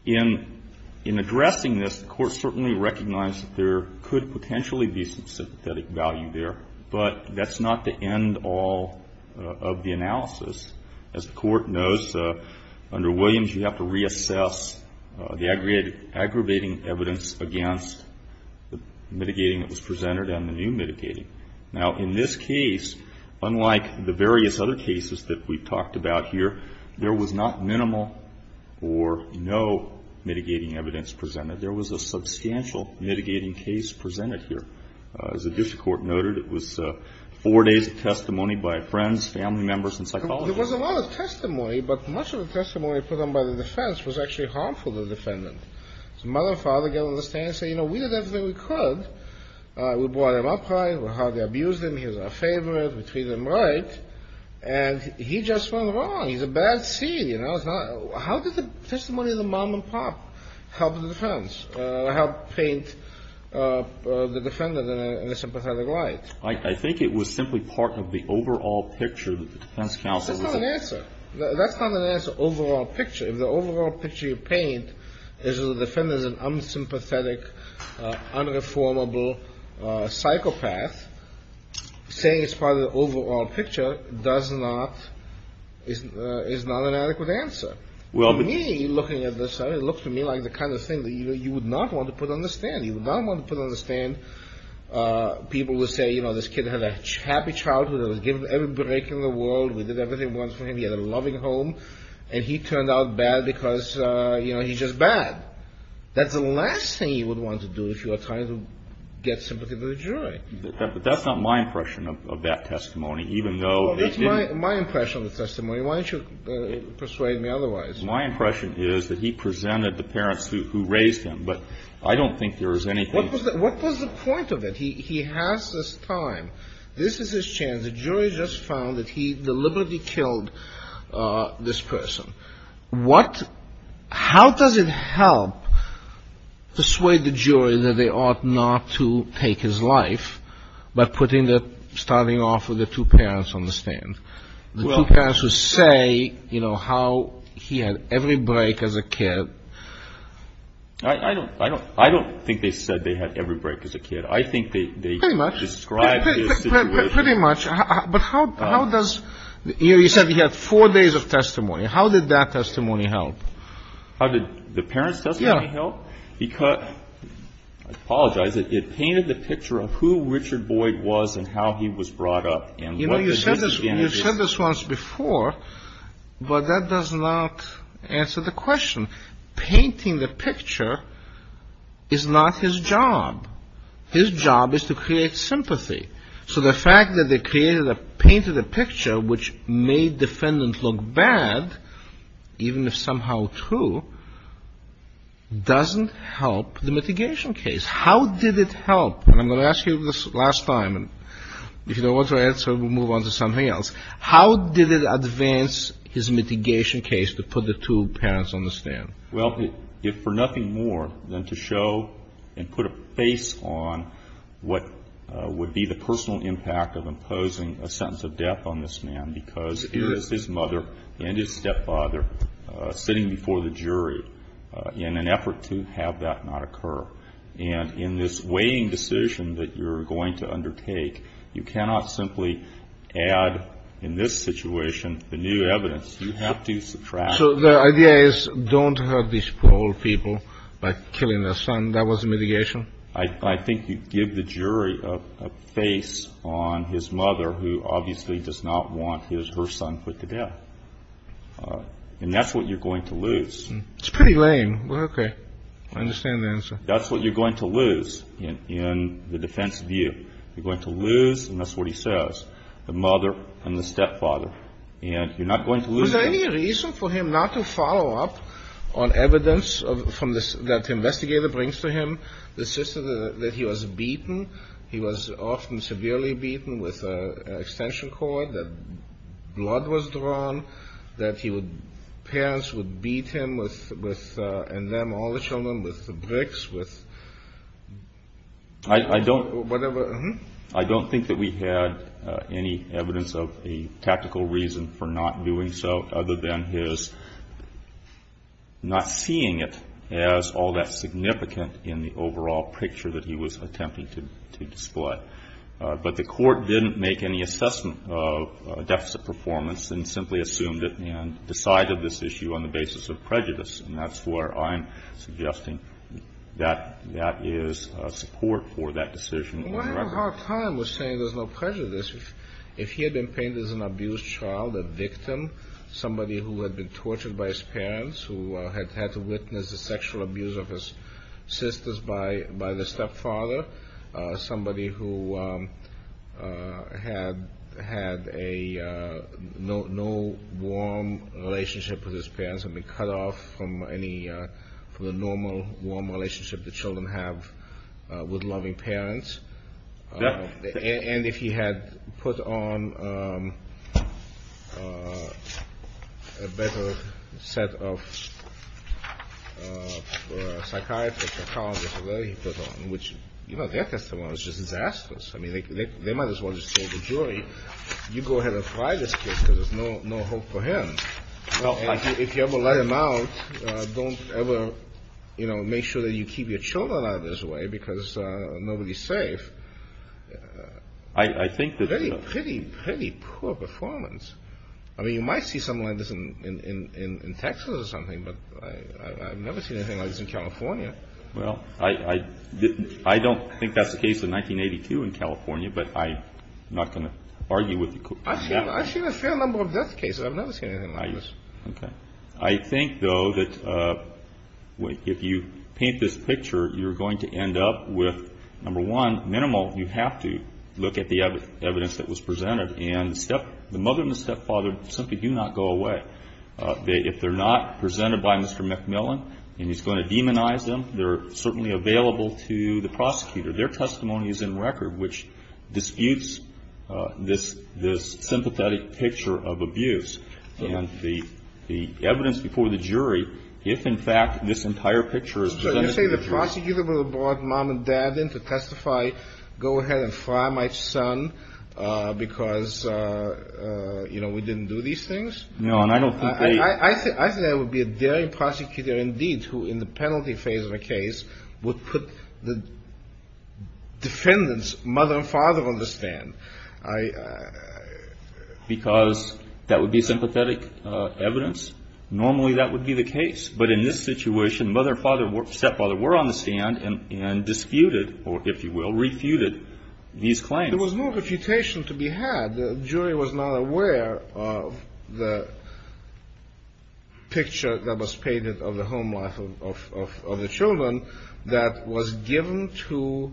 In addressing this, the court certainly recognized that there could potentially be some sympathetic value there, but that's not the end all of the analysis. As the court knows, under Williams you have to reassess the aggravating evidence against the mitigating that was presented and the new mitigating. Now, in this case, unlike the various other cases that we've talked about here, there was not minimal or no mitigating evidence presented. There was a substantial mitigating case presented here. As the district court noted, it was four days of testimony by friends, family members, and psychologists. There was a lot of testimony, but much of the testimony put on by the defense was actually harmful to the defendant. His mother and father got on the stand and said, you know, we did everything we could. We brought him up right. We hardly abused him. He was our favorite. We treated him right. And he just went wrong. He's a bad seed, you know. How did the testimony of the mom and pop help the defense, help paint the defendant in a sympathetic light? I think it was simply part of the overall picture that the defense counsel was That's not an answer. That's not an answer, overall picture. If the overall picture you paint is that the defendant is an unsympathetic, unreformable psychopath, saying it's part of the overall picture does not, is not an adequate answer. To me, looking at this, it looked to me like the kind of thing that you would not want to put on the stand. You would not want to put on the stand people who say, you know, this kid had a happy childhood. He was given every break in the world. We did everything once for him. He had a loving home. And he turned out bad because, you know, he's just bad. That's the last thing you would want to do if you are trying to get sympathy for the jury. But that's not my impression of that testimony, even though it didn't Well, that's my impression of the testimony. Why don't you persuade me otherwise? My impression is that he presented the parents who raised him. But I don't think there is anything What was the point of it? He has this time. This is his chance. The jury just found that he deliberately killed this person. What, how does it help persuade the jury that they ought not to take his life by putting the, starting off with the two parents on the stand? The two parents who say, you know, how he had every break as a kid. I don't think they said they had every break as a kid. I think they Pretty much. Described his situation Pretty much. But how does, you said he had four days of testimony. How did that testimony help? How did the parents testimony help? Yeah. Because, I apologize, it painted the picture of who Richard Boyd was and how he was brought up. You know, you said this once before, but that does not answer the question. Painting the picture is not his job. His job is to create sympathy. So the fact that they painted a picture which made the defendant look bad, even if somehow true, doesn't help the mitigation case. How did it help? And I'm going to ask you this last time. If you don't want to answer, we'll move on to something else. How did it advance his mitigation case to put the two parents on the stand? Well, if for nothing more than to show and put a face on what would be the personal impact of imposing a sentence of death on this man because it is his mother and his stepfather sitting before the jury in an effort to have that not occur. And in this weighing decision that you're going to undertake, you cannot simply add in this situation the new evidence. You have to subtract. So the idea is don't hurt these poor old people by killing their son. That was the mitigation? I think you give the jury a face on his mother who obviously does not want her son put to death. And that's what you're going to lose. It's pretty lame. Okay. I understand the answer. That's what you're going to lose in the defense view. You're going to lose, and that's what he says, the mother and the stepfather. And you're not going to lose that. Was there any reason for him not to follow up on evidence from the – that the investigator brings to him, the sister that he was beaten? He was often severely beaten with an extension cord, that blood was drawn, that he would – parents would beat him with a limb, all the children, with the bricks, with whatever. I don't think that we had any evidence of a tactical reason for not doing so, other than his not seeing it as all that significant in the overall picture that he was attempting to display. But the Court didn't make any assessment of deficit performance and simply assumed it and decided this issue on the basis of prejudice. And that's where I'm suggesting that that is support for that decision on the record. But what about how time was saying there's no prejudice? If he had been painted as an abused child, a victim, somebody who had been tortured by his parents, who had had to witness the sexual abuse of his sisters by the stepfather, somebody who had a – no warm relationship with his parents, had been cut off from any – from the normal warm relationship the children have with loving parents. And if he had put on a better set of psychiatrists or psychologists or whatever he put on, which, you know, their testimony was just disastrous. I mean, they might as well just tell the jury, you go ahead and fry this kid because there's no hope for him. If you ever let him out, don't ever, you know, make sure that you keep your children out of his way because nobody's safe. I think that – Pretty, pretty, pretty poor performance. I mean, you might see something like this in Texas or something, but I've never seen anything like this in California. Well, I don't think that's the case in 1982 in California, but I'm not going to argue with you. I've seen a fair number of death cases. I've never seen anything like this. Okay. I think, though, that if you paint this picture, you're going to end up with, number one, minimal. You have to look at the evidence that was presented. And the mother and the stepfather simply do not go away. If they're not presented by Mr. McMillan and he's going to demonize them, they're certainly available to the prosecutor. Their testimony is in record, which disputes this sympathetic picture of abuse. And the evidence before the jury, if, in fact, this entire picture is presented to the jury – So you're saying the prosecutor will have brought mom and dad in to testify, go ahead and fry my son because, you know, we didn't do these things? No, and I don't think they – I think there would be a daring prosecutor, indeed, who in the penalty phase of a case would put the defendant's mother and father on the stand. Because that would be sympathetic evidence? Normally that would be the case. But in this situation, mother and stepfather were on the stand and disputed, if you will, refuted these claims. There was no refutation to be had. The jury was not aware of the picture that was painted of the home life of the children that was given to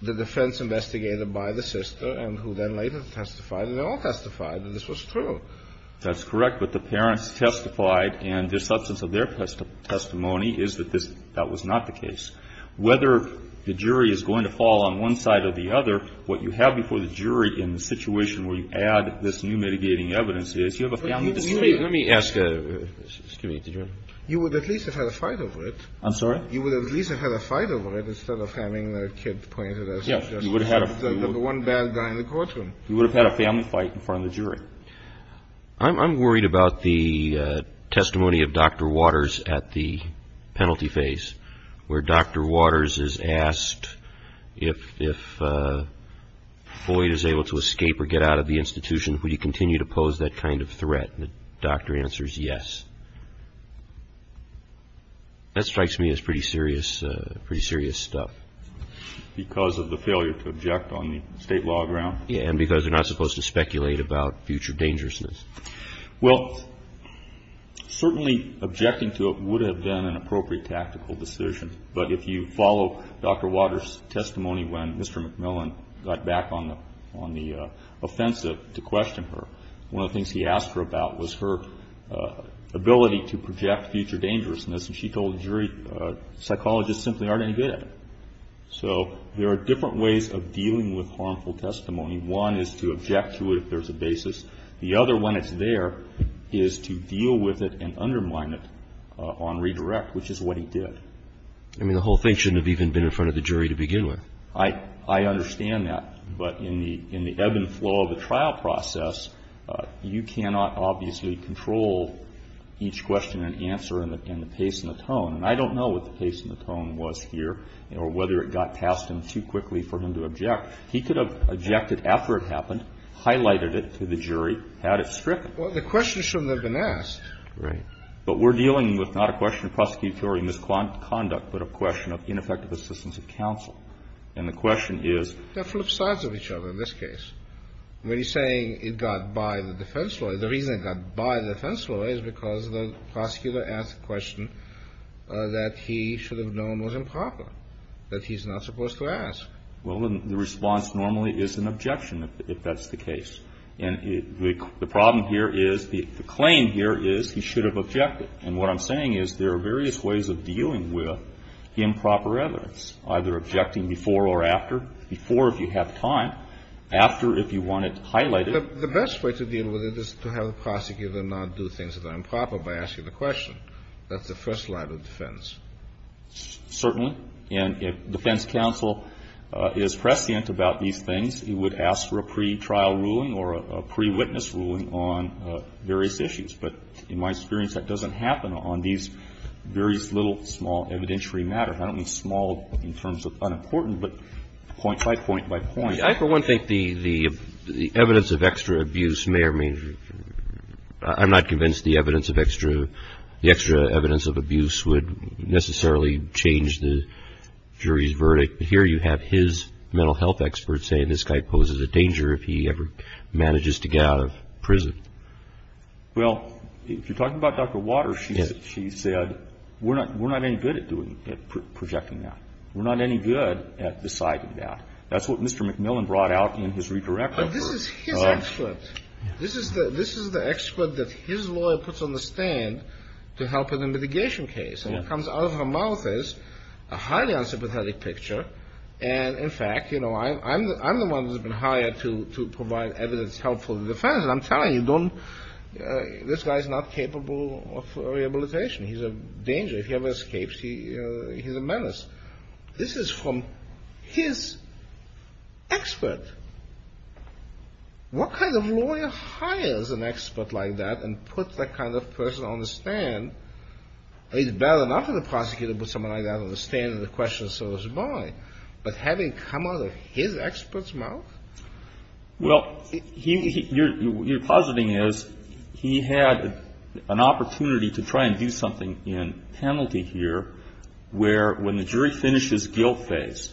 the defense investigator by the sister and who then later testified and all testified that this was true. That's correct. But the parents testified and the substance of their testimony is that this – that was not the case. Whether the jury is going to fall on one side or the other, what you have before the jury in the situation where you add this new mitigating evidence is you have a family dispute. Let me ask – excuse me. You would at least have had a fight over it. You would at least have had a fight over it instead of having the kid pointed as the one bad guy in the courtroom. You would have had a family fight in front of the jury. I'm worried about the testimony of Dr. Waters at the penalty phase where Dr. Waters is asked if Floyd is able to escape or get out of the institution, would you continue to pose that kind of threat? And the doctor answers yes. That strikes me as pretty serious stuff. Because of the failure to object on the state law ground? Yeah, and because you're not supposed to speculate about future dangerousness. Well, certainly objecting to it would have been an appropriate tactical decision, but if you follow Dr. Waters' testimony when Mr. McMillan got back on the offensive to question her, one of the things he asked her about was her ability to project future dangerousness, and she told the jury psychologists simply aren't any good at it. So there are different ways of dealing with harmful testimony. One is to object to it if there's a basis. The other, when it's there, is to deal with it and undermine it on redirect, which is what he did. I mean, the whole thing shouldn't have even been in front of the jury to begin with. I understand that. But in the ebb and flow of the trial process, you cannot obviously control each question and answer and the pace and the tone. And I don't know what the pace and the tone was here or whether it got past him too quickly for him to object. He could have objected after it happened, highlighted it to the jury, had it stricken. Well, the question shouldn't have been asked. Right. But we're dealing with not a question of prosecutorial misconduct, but a question of ineffective assistance of counsel. And the question is. They're flip sides of each other in this case. When he's saying it got by the defense lawyer, the reason it got by the defense lawyer is because the prosecutor asked the question that he should have known was improper, that he's not supposed to ask. Well, the response normally is an objection if that's the case. And the problem here is the claim here is he should have objected. And what I'm saying is there are various ways of dealing with improper evidence, either objecting before or after. Before, if you have time. After, if you want it highlighted. The best way to deal with it is to have the prosecutor not do things that are improper by asking the question. That's the first line of defense. Certainly. And if defense counsel is prescient about these things, he would ask for a pretrial ruling or a prewitness ruling on various issues. But in my experience, that doesn't happen on these various little small evidentiary matters. I don't mean small in terms of unimportant, but point by point by point. I, for one, think the evidence of extra abuse may or may not. I'm not convinced the evidence of extra, the extra evidence of abuse would necessarily change the jury's verdict. But here you have his mental health expert saying this guy poses a danger if he ever manages to get out of prison. Well, if you're talking about Dr. Waters, she said we're not any good at projecting that. We're not any good at deciding that. That's what Mr. McMillan brought out in his redirection. But this is his expert. This is the expert that his lawyer puts on the stand to help in a mitigation case. And what comes out of her mouth is a highly unsympathetic picture. And, in fact, you know, I'm the one who's been hired to provide evidence helpful to the defense. And I'm telling you, don't, this guy's not capable of rehabilitation. He's a danger. If he ever escapes, he's a menace. This is from his expert. What kind of lawyer hires an expert like that and puts that kind of person on the stand? It's better not for the prosecutor to put someone like that on the stand and the question is sort of by. But having come out of his expert's mouth? Well, you're positing is he had an opportunity to try and do something in penalty here where, when the jury finishes guilt phase,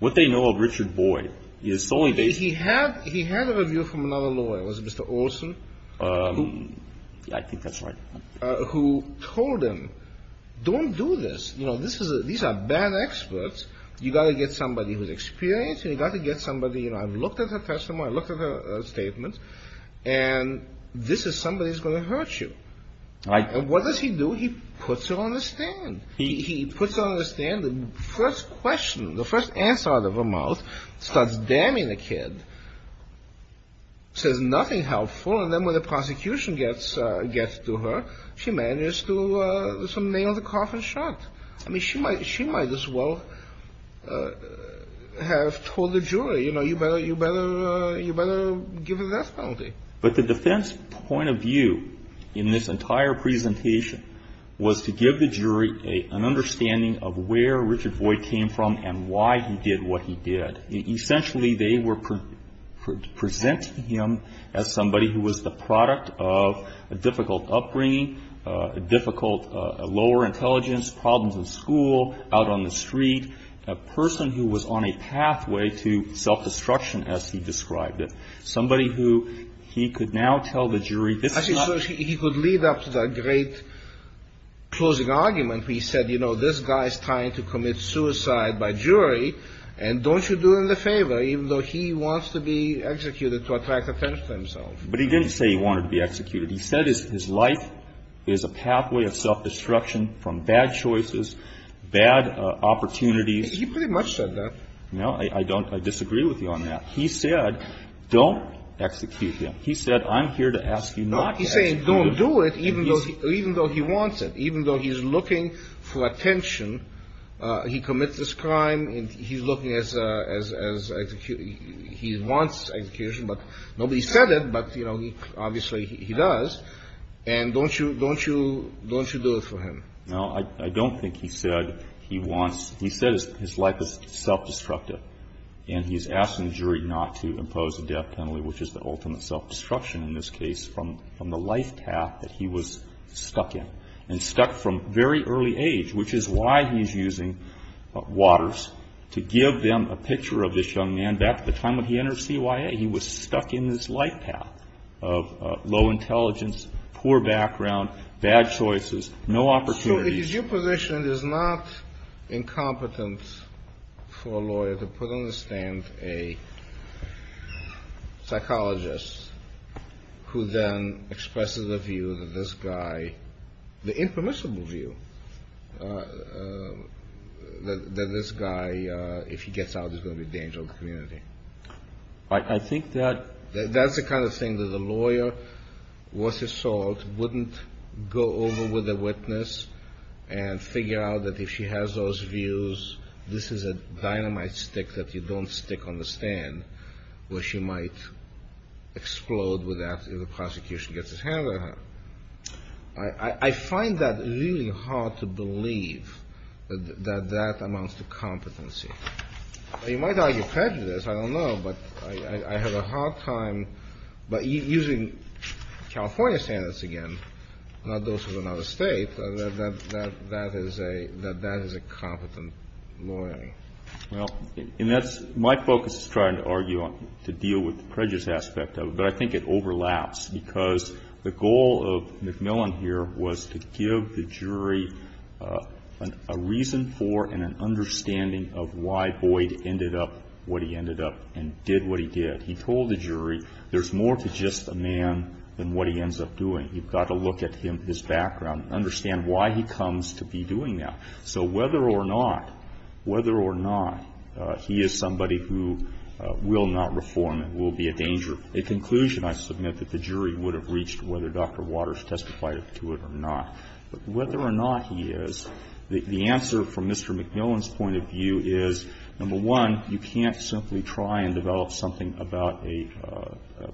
what they know of Richard Boyd is solely based. He had a review from another lawyer, was it Mr. Olson? I think that's right. Who told him, don't do this. You know, these are bad experts. You've got to get somebody who's experienced and you've got to get somebody, you know, I've looked at her testimony. I looked at her statements. And this is somebody who's going to hurt you. And what does he do? He puts her on the stand. He puts her on the stand. The first question, the first answer out of her mouth starts damning the kid. Says nothing helpful. And then when the prosecution gets to her, she manages to nail the coffin shut. I mean, she might as well have told the jury, you know, you better give her that penalty. But the defense point of view in this entire presentation was to give the jury an understanding of where Richard Boyd came from and why he did what he did. Essentially, they were presenting him as somebody who was the product of a difficult upbringing, a difficult lower intelligence, problems in school, out on the street, a person who was on a pathway to self-destruction as he described it, somebody who he could now tell the jury this is not. He could lead up to the great closing argument where he said, you know, this guy is trying to commit suicide by jury, and don't you do him the favor, even though he wants to be executed to attract attention to himself. But he didn't say he wanted to be executed. He said his life is a pathway of self-destruction from bad choices, bad opportunities. He pretty much said that. No, I don't. I disagree with you on that. He said, don't execute him. He said, I'm here to ask you not to execute him. He's saying don't do it even though he wants it, even though he's looking for attention. He commits this crime and he's looking as he wants execution. But nobody said it, but, you know, obviously he does. And don't you, don't you, don't you do it for him? No, I don't think he said he wants. He said his life is self-destructive, and he's asking the jury not to impose a death penalty, which is the ultimate self-destruction in this case from the life path that he was stuck in. And stuck from very early age, which is why he's using Waters to give them a picture of this young man. Back at the time when he entered CYA, he was stuck in this life path of low intelligence, poor background, bad choices, no opportunities. Your position is not incompetent for a lawyer to put on the stand a psychologist who then expresses a view that this guy, the impermissible view that this guy, if he gets out, is going to be a danger to the community. I think that. That's the kind of thing that a lawyer worth his salt wouldn't go over with a witness and figure out that if she has those views, this is a dynamite stick that you don't stick on the stand where she might explode with that if the prosecution gets its hands on her. I find that really hard to believe that that amounts to competency. You might argue prejudice. I don't know. But I had a hard time. But using California standards again, not those of another State, that is a competent lawyer. Well, and that's my focus is trying to argue to deal with the prejudice aspect of it. But I think it overlaps because the goal of McMillan here was to give the jury a reason for and an understanding of why Boyd ended up what he ended up and did what he did. He told the jury there's more to just a man than what he ends up doing. You've got to look at him, his background, understand why he comes to be doing that. So whether or not, whether or not he is somebody who will not reform and will be a danger, a conclusion I submit that the jury would have reached whether Dr. Waters testified to it or not. But whether or not he is, the answer from Mr. McMillan's point of view is, number one, you can't simply try and develop something about a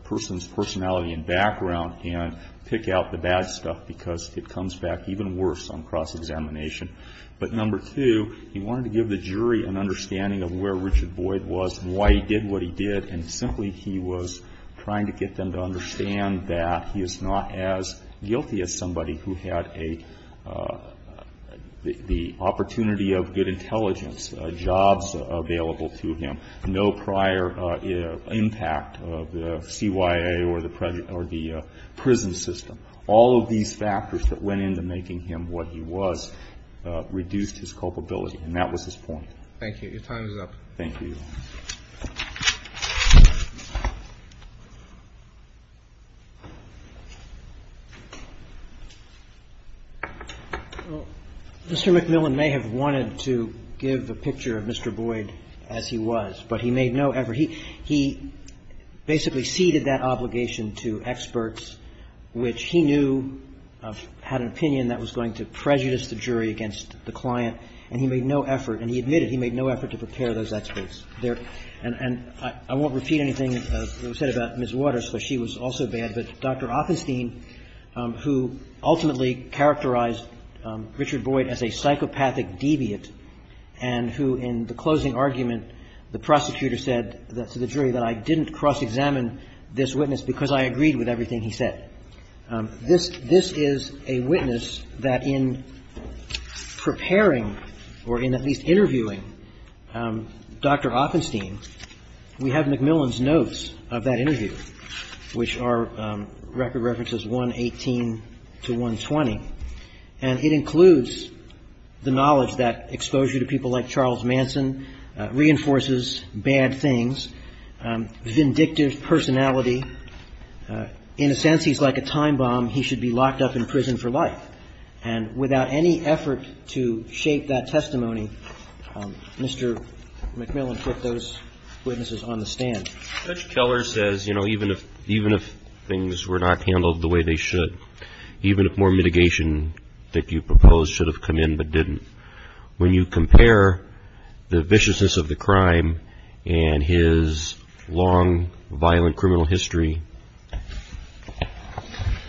person's personality and background and pick out the bad stuff because it comes back even worse on cross-examination. But number two, he wanted to give the jury an understanding of where Richard Boyd was and why he did what he did. And simply he was trying to get them to understand that he is not as guilty as somebody who had a, the opportunity of good intelligence, jobs available to him, no prior impact of the CYA or the prison system. All of these factors that went into making him what he was reduced his culpability and that was his point. Thank you. Your time is up. Thank you. Mr. McMillan may have wanted to give the picture of Mr. Boyd as he was, but he made no effort. He basically ceded that obligation to experts, which he knew had an opinion that was going to prejudice the jury against the client, and he made no effort, and he admitted he made no effort to prepare those experts. And I won't repeat anything that was said about Ms. Waters, because she was also bad. But Dr. Oppenstein, who ultimately characterized Richard Boyd as a psychopathic and who in the closing argument, the prosecutor said to the jury that I didn't cross-examine this witness because I agreed with everything he said. This is a witness that in preparing or in at least interviewing Dr. Oppenstein, we have McMillan's notes of that interview, which are record references 118 to 120, and it includes the knowledge that exposure to people like Charles Manson reinforces bad things, vindictive personality. In a sense, he's like a time bomb. He should be locked up in prison for life. And without any effort to shape that testimony, Mr. McMillan put those witnesses on the stand. Judge Keller says, you know, even if things were not handled the way they should, even if more mitigation that you proposed should have come in but didn't, when you compare the viciousness of the crime and his long, violent criminal history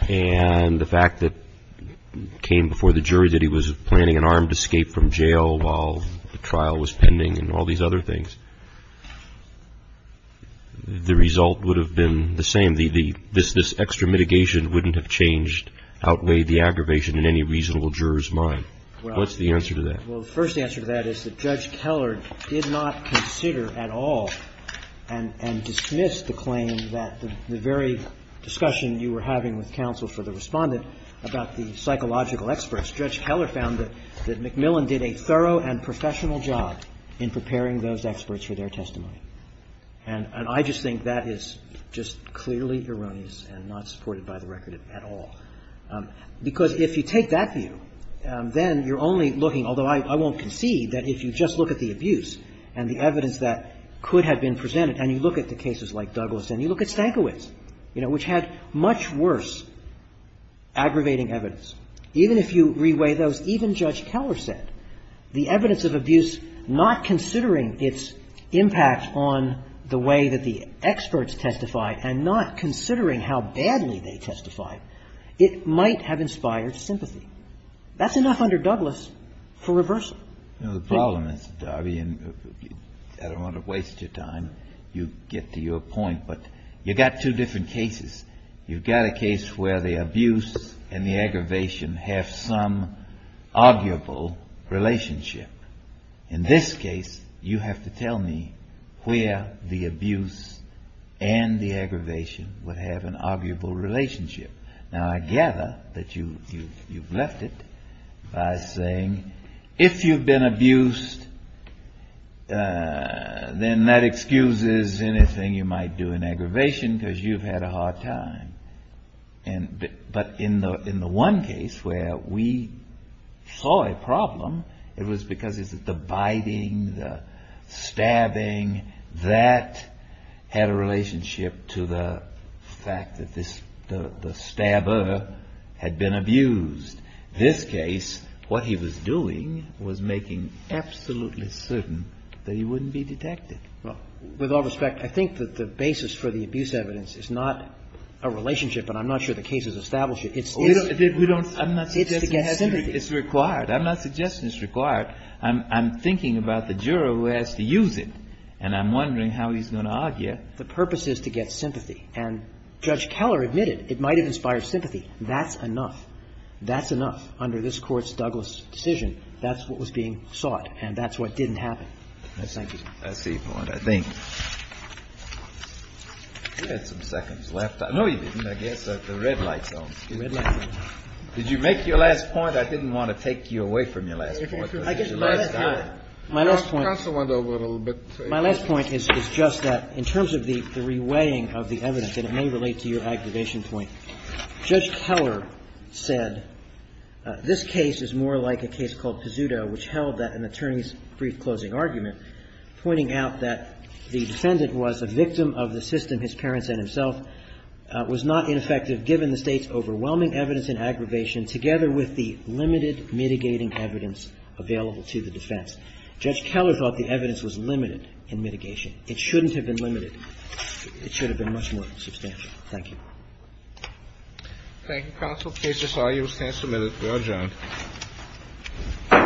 and the fact that it came before the jury that he was planning an armed escape from jail while the trial was pending and all these other things, the result would have been the same. And this extra mitigation wouldn't have changed, outweighed the aggravation in any reasonable juror's mind. What's the answer to that? Well, the first answer to that is that Judge Keller did not consider at all and dismiss the claim that the very discussion you were having with counsel for the Respondent about the psychological experts. Judge Keller found that McMillan did a thorough and professional job in preparing those experts for their testimony. And I just think that is just clearly erroneous and not supported by the record at all. Because if you take that view, then you're only looking, although I won't concede that if you just look at the abuse and the evidence that could have been presented and you look at the cases like Douglas and you look at Stankiewicz, you know, which had much worse aggravating evidence, even if you reweigh those, even Judge Keller said, the evidence of abuse, not considering its impact on the way that the experts testified and not considering how badly they testified, it might have inspired sympathy. That's enough under Douglas for reversal. The problem is, Darby, and I don't want to waste your time, you get to your point, but you've got two different cases. You've got a case where the abuse and the aggravation have some arguable relationship. In this case, you have to tell me where the abuse and the aggravation would have an arguable relationship. Now, I gather that you've left it by saying, if you've been abused, then that excuses anything you might do in aggravation because you've had a hard time. But in the one case where we saw a problem, it was because of the biting, the stabbing, that had a relationship to the fact that the stabber had been abused. This case, what he was doing was making absolutely certain that he wouldn't be detected. Well, with all respect, I think that the basis for the abuse evidence is not a relationship, and I'm not sure the case has established it. It's to get sympathy. I'm not suggesting it's required. I'm not suggesting it's required. I'm thinking about the juror who has to use it, and I'm wondering how he's going to argue. The purpose is to get sympathy. And Judge Keller admitted it might have inspired sympathy. That's enough. That's enough under this Court's Douglas decision. That's what was being sought, and that's what didn't happen. Thank you. I see your point. I think we had some seconds left. No, you didn't. I guess the red light zone. The red light zone. Did you make your last point? I didn't want to take you away from your last point. My last point is just that in terms of the reweighing of the evidence, and it may relate to your aggravation point, Judge Keller said this case is more like a case called The defendant was a victim of the system, his parents and himself, was not ineffective given the State's overwhelming evidence in aggravation together with the limited mitigating evidence available to the defense. Judge Keller thought the evidence was limited in mitigation. It shouldn't have been limited. It should have been much more substantial. Thank you. Thank you, counsel. The case is argued. It stands submitted. We are adjourned. All rise. The defense is adjourned.